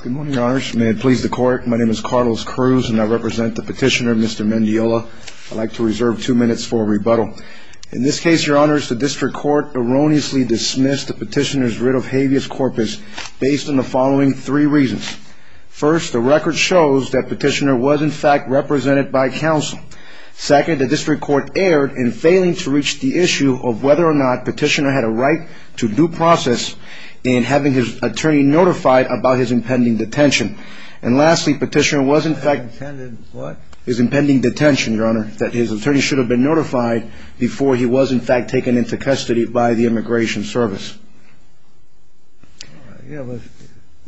Good morning, Your Honors. May it please the Court, my name is Carlos Cruz and I represent the Petitioner, Mr. Mendiola. I'd like to reserve two minutes for a rebuttal. In this case, Your Honors, the District Court erroneously dismissed the Petitioner's writ of habeas corpus based on the following three reasons. First, the record shows that Petitioner was in fact represented by counsel. Second, the District Court erred in failing to reach the issue of whether or not Petitioner had a right to due process in having his attorney notified about his impending detention. And lastly, Petitioner was in fact... His impending what? His impending detention, Your Honor, that his attorney should have been notified before he was in fact taken into custody by the Immigration Service.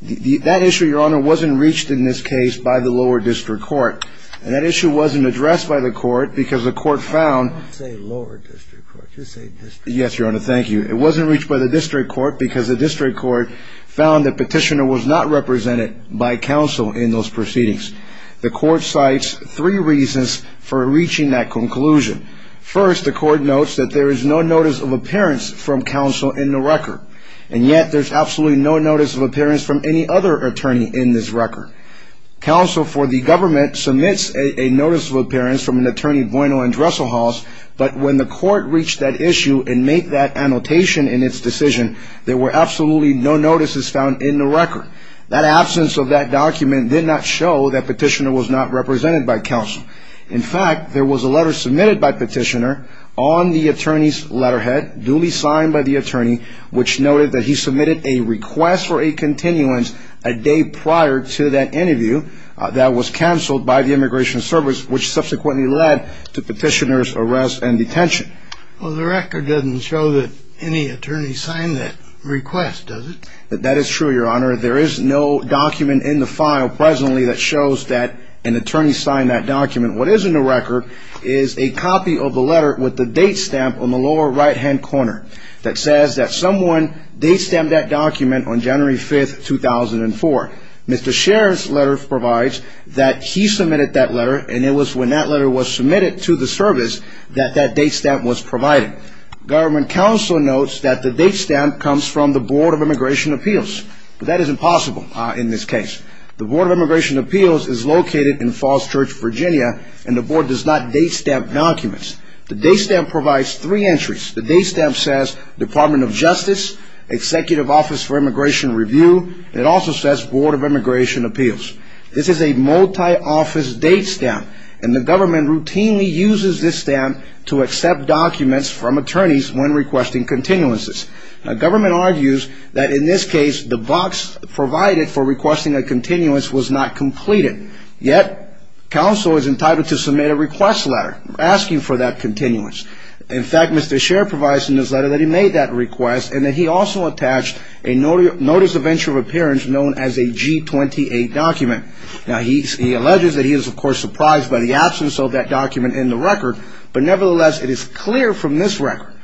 That issue, Your Honor, wasn't reached in this case by the Lower District Court. And that issue wasn't addressed by the Court because the Court found... I didn't say Lower District Court, you said District Court. Yes, Your Honor, thank you. It wasn't reached by the District Court because the District Court found that Petitioner was not represented by counsel in those proceedings. The Court cites three reasons for reaching that conclusion. First, the Court notes that there is no notice of appearance from counsel in the record. And yet, there's absolutely no notice of appearance from any other attorney in this record. Counsel for the government submits a notice of appearance from an attorney, Bueno and Dresselhaus, but when the Court reached that issue and made that annotation in its decision, there were absolutely no notices found in the record. That absence of that document did not show that Petitioner was not represented by counsel. In fact, there was a letter submitted by Petitioner on the attorney's letterhead, duly signed by the attorney, which noted that he submitted a request for a continuance a day prior to that interview that was canceled by the Immigration Service, which subsequently led to Petitioner's arrest and detention. Well, the record doesn't show that any attorney signed that request, does it? That is true, Your Honor. There is no document in the file presently that shows that an attorney signed that document. What is in the record is a copy of the letter with the date stamp on the lower right-hand corner that says that someone date-stamped that document on January 5, 2004. Mr. Scherer's letter provides that he submitted that letter, and it was when that letter was submitted to the service that that date stamp was provided. Government counsel notes that the date stamp comes from the Board of Immigration Appeals, but that is impossible in this case. The Board of Immigration Appeals is located in Falls Church, Virginia, and the Board does not date-stamp documents. The date stamp provides three entries. The date stamp says Department of Justice, Executive Office for Immigration Review, and it also says Board of Immigration Appeals. This is a multi-office date stamp, and the government routinely uses this stamp to accept documents from attorneys when requesting continuances. Now, government argues that in this case, the box provided for requesting a continuance was not completed. Yet, counsel is entitled to submit a request letter asking for that continuance. In fact, Mr. Scherer provides in his letter that he made that request, and that he also attached a Notice of Venture of Appearance known as a G-28 document. Now, he alleges that he is, of course, surprised by the absence of that document in the record, but nevertheless, it is clear from this record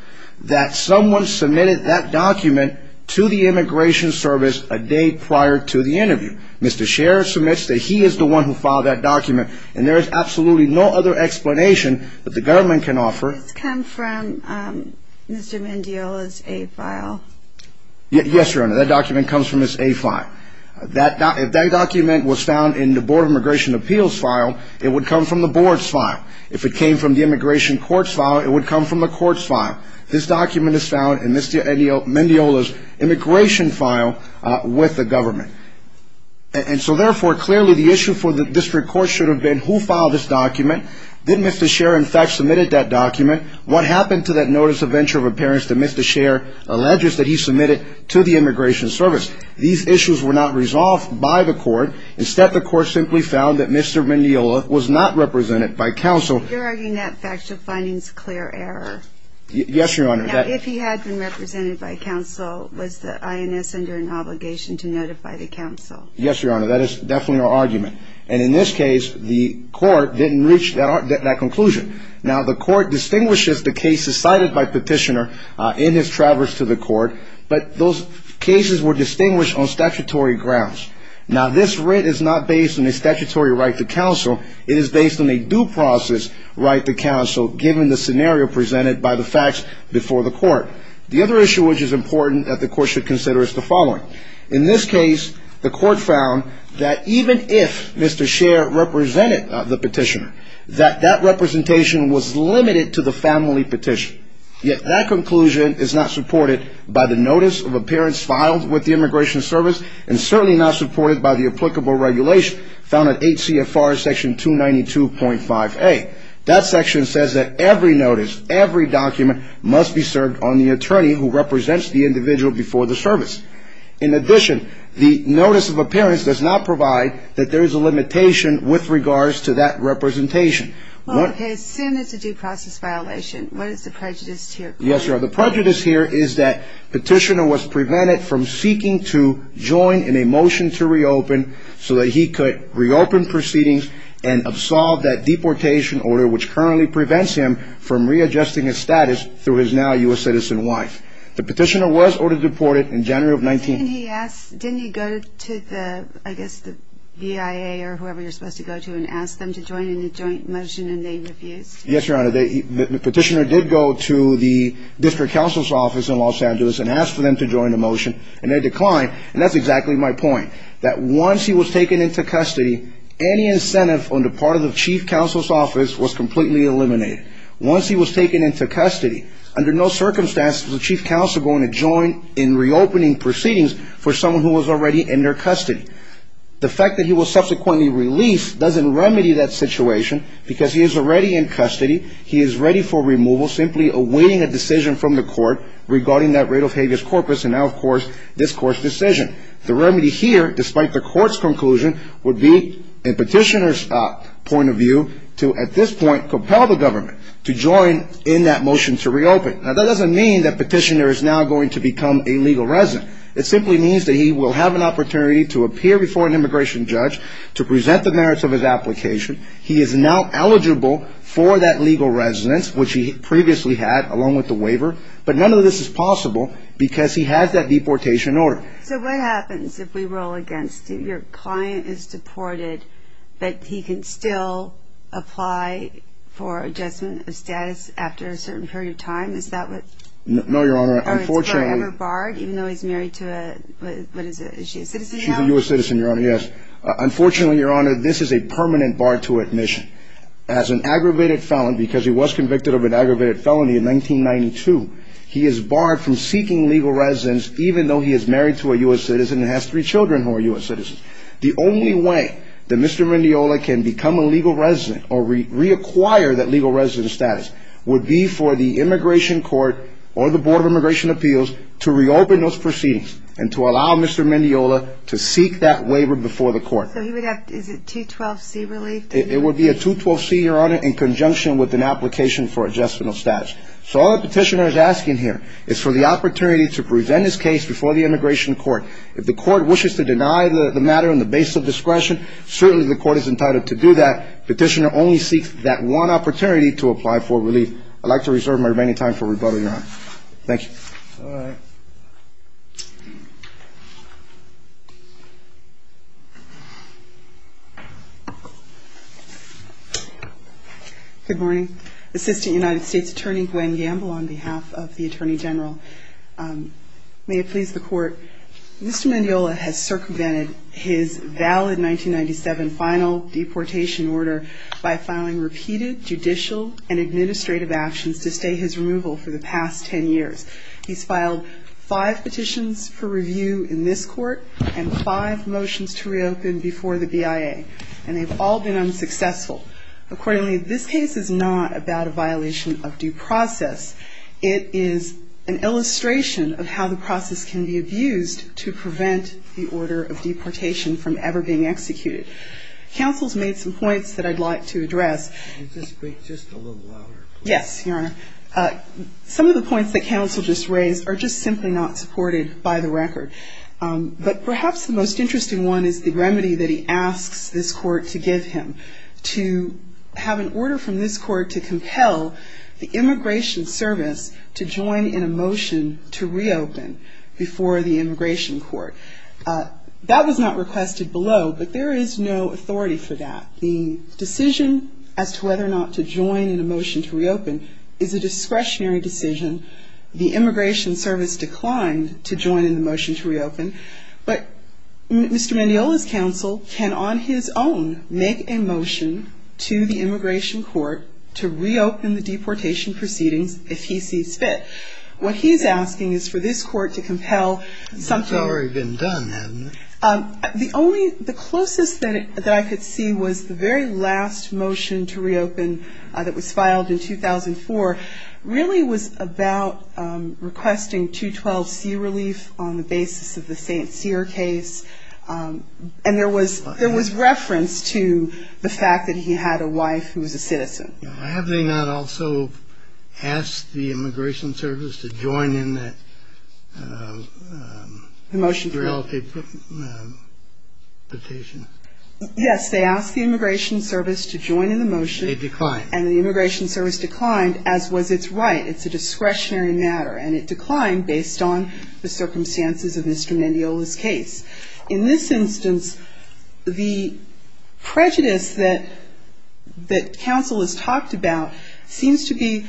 that someone submitted that document to the Immigration Service a day prior to the interview. Mr. Scherer submits that he is the one who filed that document, and there is absolutely no other explanation that the government can offer. Does this come from Mr. Mendiola's A-file? Yes, Your Honor, that document comes from his A-file. If that document was found in the Board of Immigration Appeals file, it would come from the Board's file. If it came from the Immigration Courts file, it would come from the Court's file. This document is found in Mr. Mendiola's Immigration file with the government. And so, therefore, clearly, the issue for the District Court should have been, who filed this document? Did Mr. Scherer, in fact, submit that document? What happened to that Notice of Venture of Appearance that Mr. Scherer alleges that he submitted to the Immigration Service? These issues were not resolved by the Court. Instead, the Court simply found that Mr. Mendiola was not represented by counsel. You're arguing that factual finding is clear error. Yes, Your Honor. Now, if he had been represented by counsel, was the INS under an obligation to notify the counsel? Yes, Your Honor, that is definitely our argument. And in this case, the Court didn't reach that conclusion. Now, the Court distinguishes the cases cited by Petitioner in his traverse to the Court, but those cases were distinguished on statutory grounds. Now, this writ is not based on a statutory right to counsel. It is based on a due process right to counsel, given the scenario presented by the facts before the Court. The other issue which is important that the Court should consider is the following. In this case, the Court found that even if Mr. Scherer represented the Petitioner, that that representation was limited to the family petition. Yet, that conclusion is not supported by the Notice of Appearance filed with the Immigration Service, and certainly not supported by the applicable regulation found at 8 CFR section 292.5A. That section says that every notice, every document must be served on the attorney who represents the individual before the service. In addition, the Notice of Appearance does not provide that there is a limitation with regards to that representation. Well, if his sin is a due process violation, what is the prejudice here? Yes, Your Honor, the prejudice here is that Petitioner was prevented from seeking to join in a motion to reopen, so that he could reopen proceedings and absolve that deportation order, which currently prevents him from readjusting his status through his now U.S. citizen wife. The Petitioner was ordered deported in January of 19- Didn't he ask, didn't he go to the, I guess the V.I.A. or whoever you're supposed to go to and ask them to join in a joint motion and they refused? Yes, Your Honor, the Petitioner did go to the District Counsel's office in Los Angeles and asked for them to join the motion, and they declined, and that's exactly my point, that once he was taken into custody, any incentive on the part of the Chief Counsel's office was completely eliminated. Once he was taken into custody, under no circumstances was the Chief Counsel going to join in reopening proceedings for someone who was already in their custody. The fact that he was subsequently released doesn't remedy that situation, because he is already in custody, he is ready for removal, simply awaiting a decision from the Court regarding that rate of habeas corpus, and now, of course, this Court's decision. The remedy here, despite the Court's conclusion, would be, in Petitioner's point of view, to, at this point, compel the government to join in that motion to reopen. Now, that doesn't mean that Petitioner is now going to become a legal resident. It simply means that he will have an opportunity to appear before an immigration judge to present the merits of his application. He is now eligible for that legal residence, which he previously had, along with the waiver, but none of this is possible because he has that deportation order. So what happens if we roll against you? Your client is deported, but he can still apply for adjustment of status after a certain period of time? Is that what's forever barred, even though he's married to a, what is it, is she a citizen now? She's a U.S. citizen, Your Honor, yes. Unfortunately, Your Honor, this is a permanent bar to admission. As an aggravated felon, because he was convicted of an aggravated felony in 1992, he is barred from seeking legal residence, even though he is married to a U.S. citizen and has three children who are U.S. citizens. The only way that Mr. Mendiola can become a legal resident or reacquire that legal residence status would be for the immigration court or the Board of Immigration Appeals to reopen those proceedings and to allow Mr. Mendiola to seek that waiver before the court. So he would have, is it 212C relief? It would be a 212C, Your Honor, in conjunction with an application for adjustment of status. So all the petitioner is asking here is for the opportunity to present his case before the immigration court. If the court wishes to deny the matter on the basis of discretion, certainly the court is entitled to do that. Petitioner only seeks that one opportunity to apply for relief. I'd like to reserve my remaining time for rebuttal, Your Honor. Thank you. All right. Good morning. Assistant United States Attorney Gwen Gamble on behalf of the Attorney General. May it please the court, Mr. Mendiola has circumvented his valid 1997 final deportation order by filing repeated judicial and administrative actions to stay his removal for the past 10 years. He's filed five petitions for review in this court and five motions to reopen before the BIA. And they've all been unsuccessful. Accordingly, this case is not about a violation of due process. It is an illustration of how the process can be abused to prevent the order of deportation from ever being executed. Counsel's made some points that I'd like to address. Could you speak just a little louder, please? Yes, Your Honor. Some of the points that counsel just raised are just simply not supported by the record. But perhaps the most interesting one is the remedy that he asks this court to give him, to have an order from this court to compel the immigration service to join in a motion to reopen before the immigration court. That was not requested below, but there is no authority for that. The decision as to whether or not to join in a motion to reopen is a discretionary decision. The immigration service declined to join in the motion to reopen. But Mr. Mendiola's counsel can on his own make a motion to the immigration court to reopen the deportation proceedings if he sees fit. What he's asking is for this court to compel something. It's already been done, hasn't it? The closest that I could see was the very last motion to reopen that was filed in 2004 really was about requesting 212C relief on the basis of the St. Cyr case. And there was reference to the fact that he had a wife who was a citizen. Have they not also asked the immigration service to join in that? The motion to reopen. Yes, they asked the immigration service to join in the motion. They declined. And the immigration service declined, as was its right. It's a discretionary matter. And it declined based on the circumstances of Mr. Mendiola's case. In this instance, the prejudice that counsel has talked about seems to be,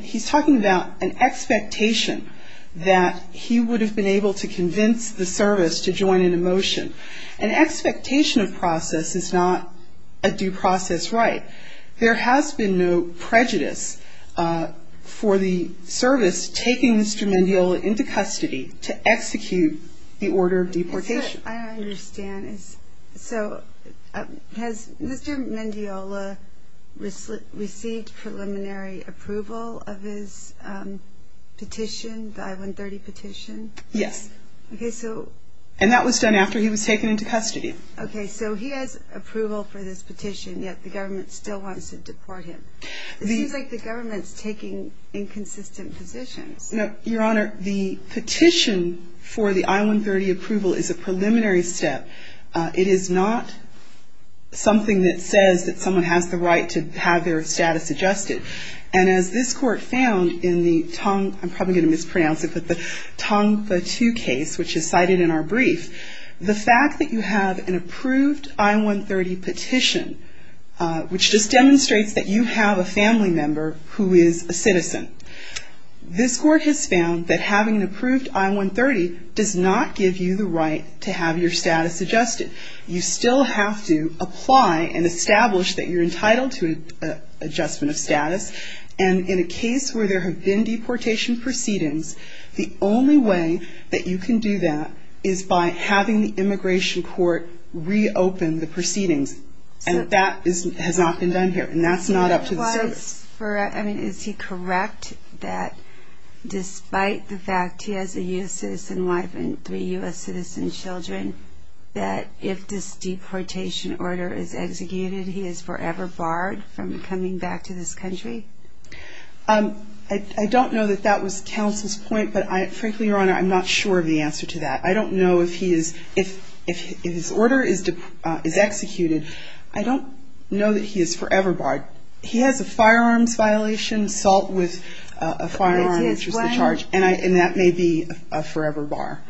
he's talking about an expectation that he would have been able to convince the service to join in a motion. An expectation of process is not a due process right. There has been no prejudice for the service taking Mr. Mendiola into custody to execute the order of deportation. What I don't understand is, so has Mr. Mendiola received preliminary approval of his petition, the I-130 petition? Yes. And that was done after he was taken into custody. Okay, so he has approval for this petition, yet the government still wants to deport him. It seems like the government is taking inconsistent positions. Your Honor, the petition for the I-130 approval is a preliminary step. It is not something that says that someone has the right to have their status adjusted. And as this Court found in the Tongva II case, which is cited in our brief, the fact that you have an approved I-130 petition, which just demonstrates that you have a family member who is a citizen. This Court has found that having an approved I-130 does not give you the right to have your status adjusted. You still have to apply and establish that you're entitled to adjustment of status. And in a case where there have been deportation proceedings, the only way that you can do that is by having the immigration court reopen the proceedings. And that has not been done here, and that's not up to the service. Is he correct that despite the fact he has a U.S. citizen wife and three U.S. citizen children, that if this deportation order is executed, he is forever barred from coming back to this country? I don't know that that was counsel's point, but frankly, Your Honor, I'm not sure of the answer to that. I don't know if his order is executed. I don't know that he is forever barred. He has a firearms violation, assault with a firearm, which is the charge. And that may be a forever bar.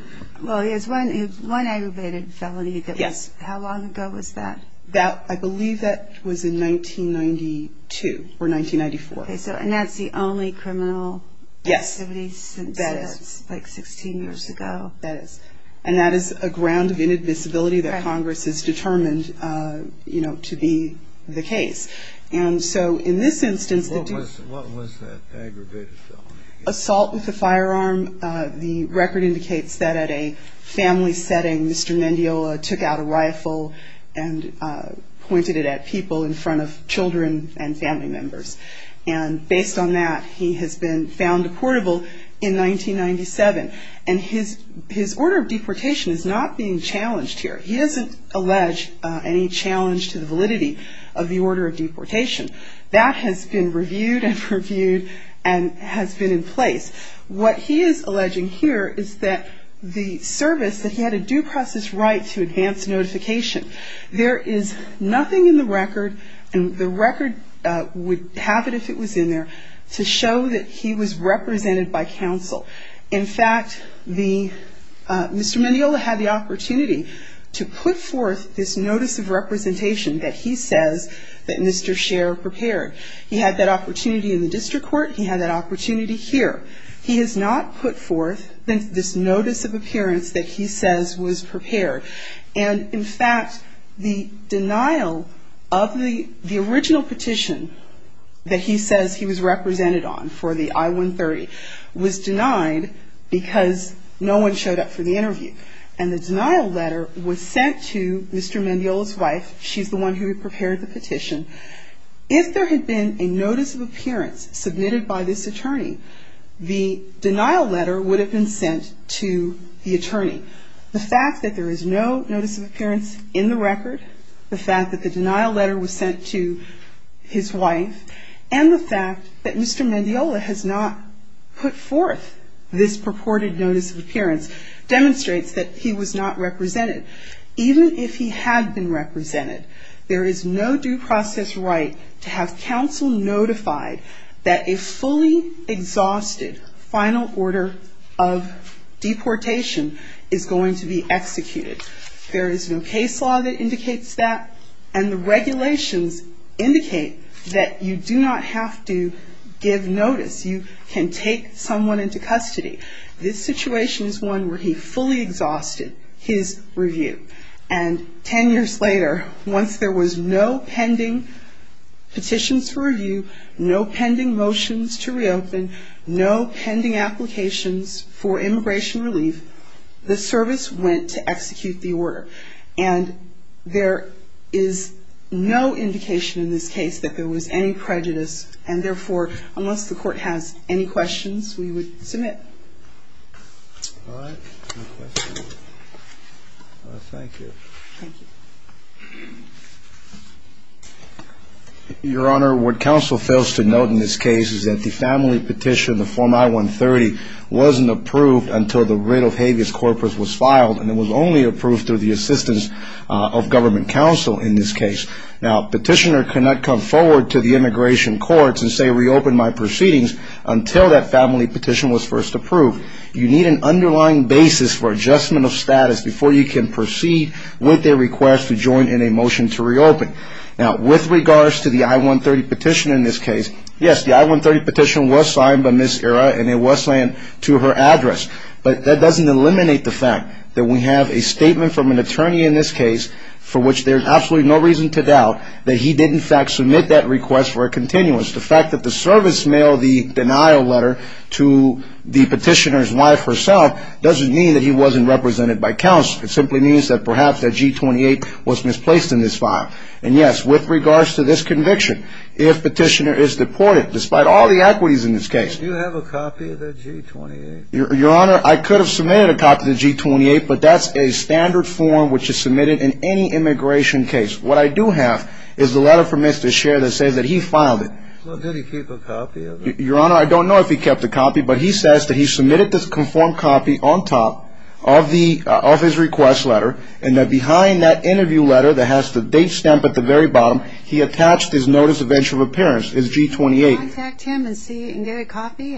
Well, he has one aggravated felony. Yes. How long ago was that? I believe that was in 1992 or 1994. And that's the only criminal activity since, like, 16 years ago? That is. And that is a ground of inadmissibility that Congress has determined, you know, to be the case. And so in this instance, the two of us. What was that aggravated felony? Assault with a firearm. The record indicates that at a family setting, Mr. Mendiola took out a rifle and pointed it at people in front of children and family members. And based on that, he has been found deportable in 1997. And his order of deportation is not being challenged here. He doesn't allege any challenge to the validity of the order of deportation. That has been reviewed and reviewed and has been in place. What he is alleging here is that the service, that he had a due process right to advance notification. There is nothing in the record, and the record would have it if it was in there, to show that he was represented by counsel. In fact, Mr. Mendiola had the opportunity to put forth this notice of representation that he says that Mr. Sher prepared. He had that opportunity in the district court. He had that opportunity here. He has not put forth this notice of appearance that he says was prepared. And, in fact, the denial of the original petition that he says he was represented on for the I-130 was denied because no one showed up for the interview. And the denial letter was sent to Mr. Mendiola's wife. She's the one who had prepared the petition. If there had been a notice of appearance submitted by this attorney, the denial letter would have been sent to the attorney. The fact that there is no notice of appearance in the record, the fact that the denial letter was sent to his wife, and the fact that Mr. Mendiola has not put forth this purported notice of appearance demonstrates that he was not represented. Even if he had been represented, there is no due process right to have counsel notified that a fully exhausted final order of deportation is going to be executed. There is no case law that indicates that, and the regulations indicate that you do not have to give notice. You can take someone into custody. This situation is one where he fully exhausted his review. And ten years later, once there was no pending petitions for review, no pending motions to reopen, no pending applications for immigration relief, the service went to execute the order. And there is no indication in this case that there was any prejudice, and therefore, unless the Court has any questions, we would submit. All right. No questions. All right. Thank you. Thank you. Your Honor, what counsel fails to note in this case is that the family petition, the Form I-130, wasn't approved until the writ of habeas corpus was filed, and it was only approved through the assistance of government counsel in this case. Now, a petitioner cannot come forward to the immigration courts and say, reopen my proceedings, until that family petition was first approved. You need an underlying basis for adjustment of status before you can proceed with their request to join in a motion to reopen. Now, with regards to the I-130 petition in this case, yes, the I-130 petition was signed by Ms. Ira, and it was signed to her address. But that doesn't eliminate the fact that we have a statement from an attorney in this case, for which there's absolutely no reason to doubt that he did, in fact, submit that request for a continuance. The fact that the service mailed the denial letter to the petitioner's wife herself doesn't mean that he wasn't represented by counsel. It simply means that perhaps that G-28 was misplaced in this file. And, yes, with regards to this conviction, if petitioner is deported, despite all the equities in this case. Do you have a copy of that G-28? Your Honor, I could have submitted a copy of the G-28, but that's a standard form which is submitted in any immigration case. What I do have is the letter from Mr. Sher that says that he filed it. Well, did he keep a copy of it? Your Honor, I don't know if he kept a copy, but he says that he submitted this conformed copy on top of his request letter, and that behind that interview letter that has the date stamp at the very bottom, he attached his Notice of Injury of Appearance, his G-28. Contact him and see if you can get a copy?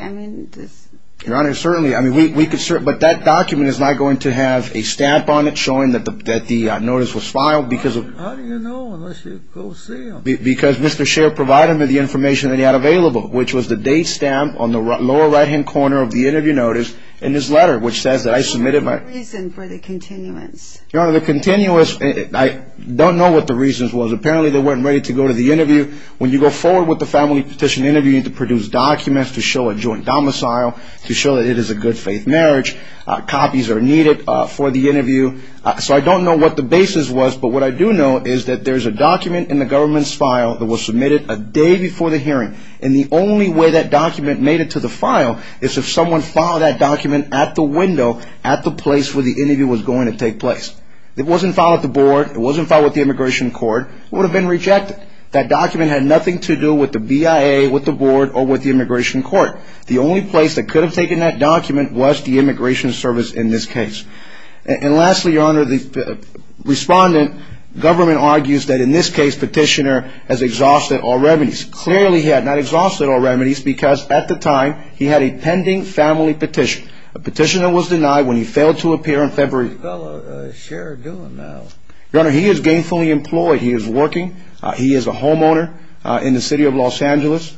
Your Honor, certainly. But that document is not going to have a stamp on it showing that the notice was filed because of How do you know unless you go see him? Because Mr. Sher provided me the information that he had available, which was the date stamp on the lower right-hand corner of the interview notice in his letter, which says that I submitted my What was the reason for the continuance? Your Honor, the continuance, I don't know what the reason was. Apparently, they weren't ready to go to the interview. When you go forward with the family petition interview, you need to produce documents to show a joint domicile, to show that it is a good-faith marriage. Copies are needed for the interview. So I don't know what the basis was, but what I do know is that there's a document in the government's file that was submitted a day before the hearing. And the only way that document made it to the file is if someone filed that document at the window, at the place where the interview was going to take place. It wasn't filed at the board. It wasn't filed with the Immigration Court. It would have been rejected. That document had nothing to do with the BIA, with the board, or with the Immigration Court. The only place that could have taken that document was the Immigration Service in this case. And lastly, Your Honor, the respondent, government argues that in this case, Petitioner has exhausted all remedies. Clearly, he has not exhausted all remedies because at the time, he had a pending family petition. A petitioner was denied when he failed to appear in February. How's this fellow, Sher, doing now? Your Honor, he is gainfully employed. He is working. He is a homeowner in the City of Los Angeles.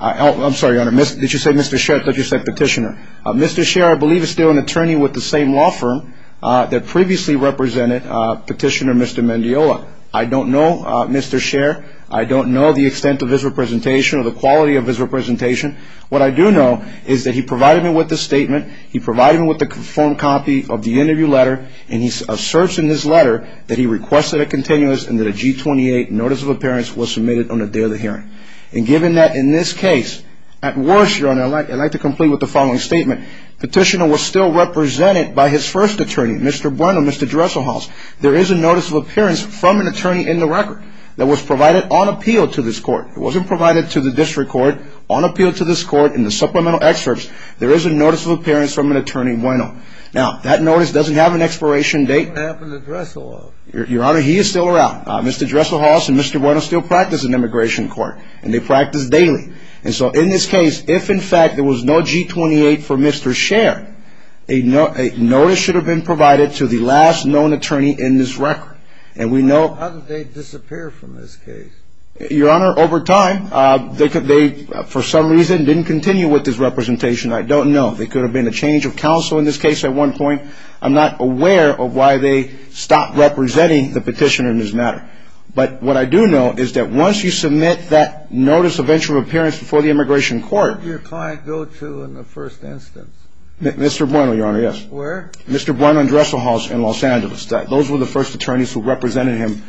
I'm sorry, Your Honor. Did you say Mr. Sher? I thought you said Petitioner. Mr. Sher, I believe, is still an attorney with the same law firm that previously represented Petitioner Mr. Mendiola. I don't know, Mr. Sher. I don't know the extent of his representation or the quality of his representation. What I do know is that he provided me with this statement. He provided me with a phone copy of the interview letter. And he asserts in this letter that he requested a continuous and that a G-28 notice of appearance was submitted on the day of the hearing. And given that in this case, at worst, Your Honor, I'd like to complete with the following statement. Petitioner was still represented by his first attorney, Mr. Bueno, Mr. Dresselhaus. There is a notice of appearance from an attorney in the record that was provided on appeal to this court. It wasn't provided to the district court on appeal to this court in the supplemental excerpts. Now, that notice doesn't have an expiration date. What happened to Dresselhaus? Your Honor, he is still around. Mr. Dresselhaus and Mr. Bueno still practice in immigration court. And they practice daily. And so in this case, if, in fact, there was no G-28 for Mr. Sher, a notice should have been provided to the last known attorney in this record. How did they disappear from this case? Your Honor, over time, they, for some reason, didn't continue with this representation. I don't know. There could have been a change of counsel in this case at one point. I'm not aware of why they stopped representing the petitioner in this matter. But what I do know is that once you submit that notice of entry of appearance before the immigration court. Who did your client go to in the first instance? Mr. Bueno, Your Honor, yes. Where? Mr. Bueno and Dresselhaus in Los Angeles. Those were the first attorneys who represented him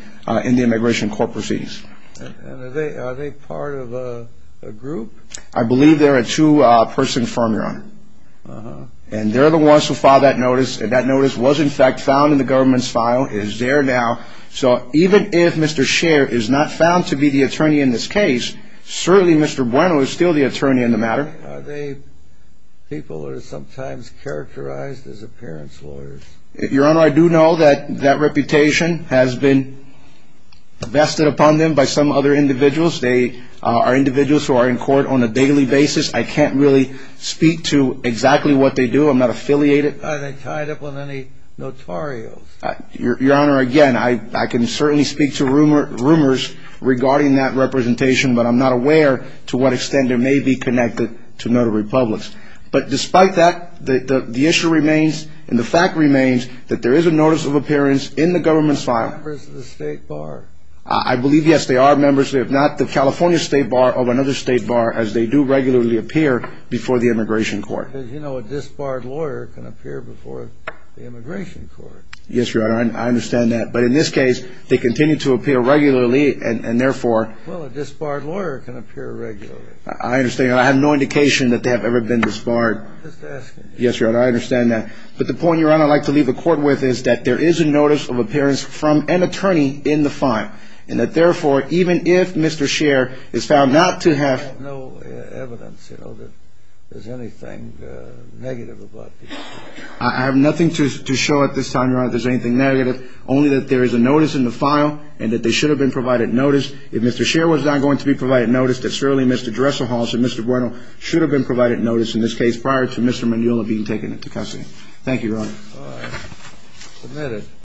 in the immigration court proceedings. And are they part of a group? I believe they're a two-person firm, Your Honor. And they're the ones who filed that notice. And that notice was, in fact, found in the government's file. It is there now. So even if Mr. Sher is not found to be the attorney in this case, certainly Mr. Bueno is still the attorney in the matter. Are they people who are sometimes characterized as appearance lawyers? Your Honor, I do know that that reputation has been vested upon them by some other individuals. They are individuals who are in court on a daily basis. I can't really speak to exactly what they do. I'm not affiliated. Are they tied up with any notarios? Your Honor, again, I can certainly speak to rumors regarding that representation, but I'm not aware to what extent they may be connected to notary publics. But despite that, the issue remains and the fact remains that there is a notice of appearance in the government's file. Are they members of the State Bar? I believe, yes, they are members. They're not the California State Bar or another State Bar, as they do regularly appear before the Immigration Court. As you know, a disbarred lawyer can appear before the Immigration Court. Yes, Your Honor, I understand that. But in this case, they continue to appear regularly, and therefore… Well, a disbarred lawyer can appear regularly. I understand. I have no indication that they have ever been disbarred. Just asking. Yes, Your Honor, I understand that. But the point, Your Honor, I'd like to leave the Court with is that there is a notice of appearance from an attorney in the file, and that therefore, even if Mr. Scher is found not to have… I have no evidence, you know, that there's anything negative about this case. I have nothing to show at this time, Your Honor, if there's anything negative, only that there is a notice in the file and that they should have been provided notice. If Mr. Scher was not going to be provided notice, then certainly Mr. Dresselhaus and Mr. Bruno should have been provided notice in this case prior to Mr. Mignola being taken into custody. Thank you, Your Honor. All right. Submitted.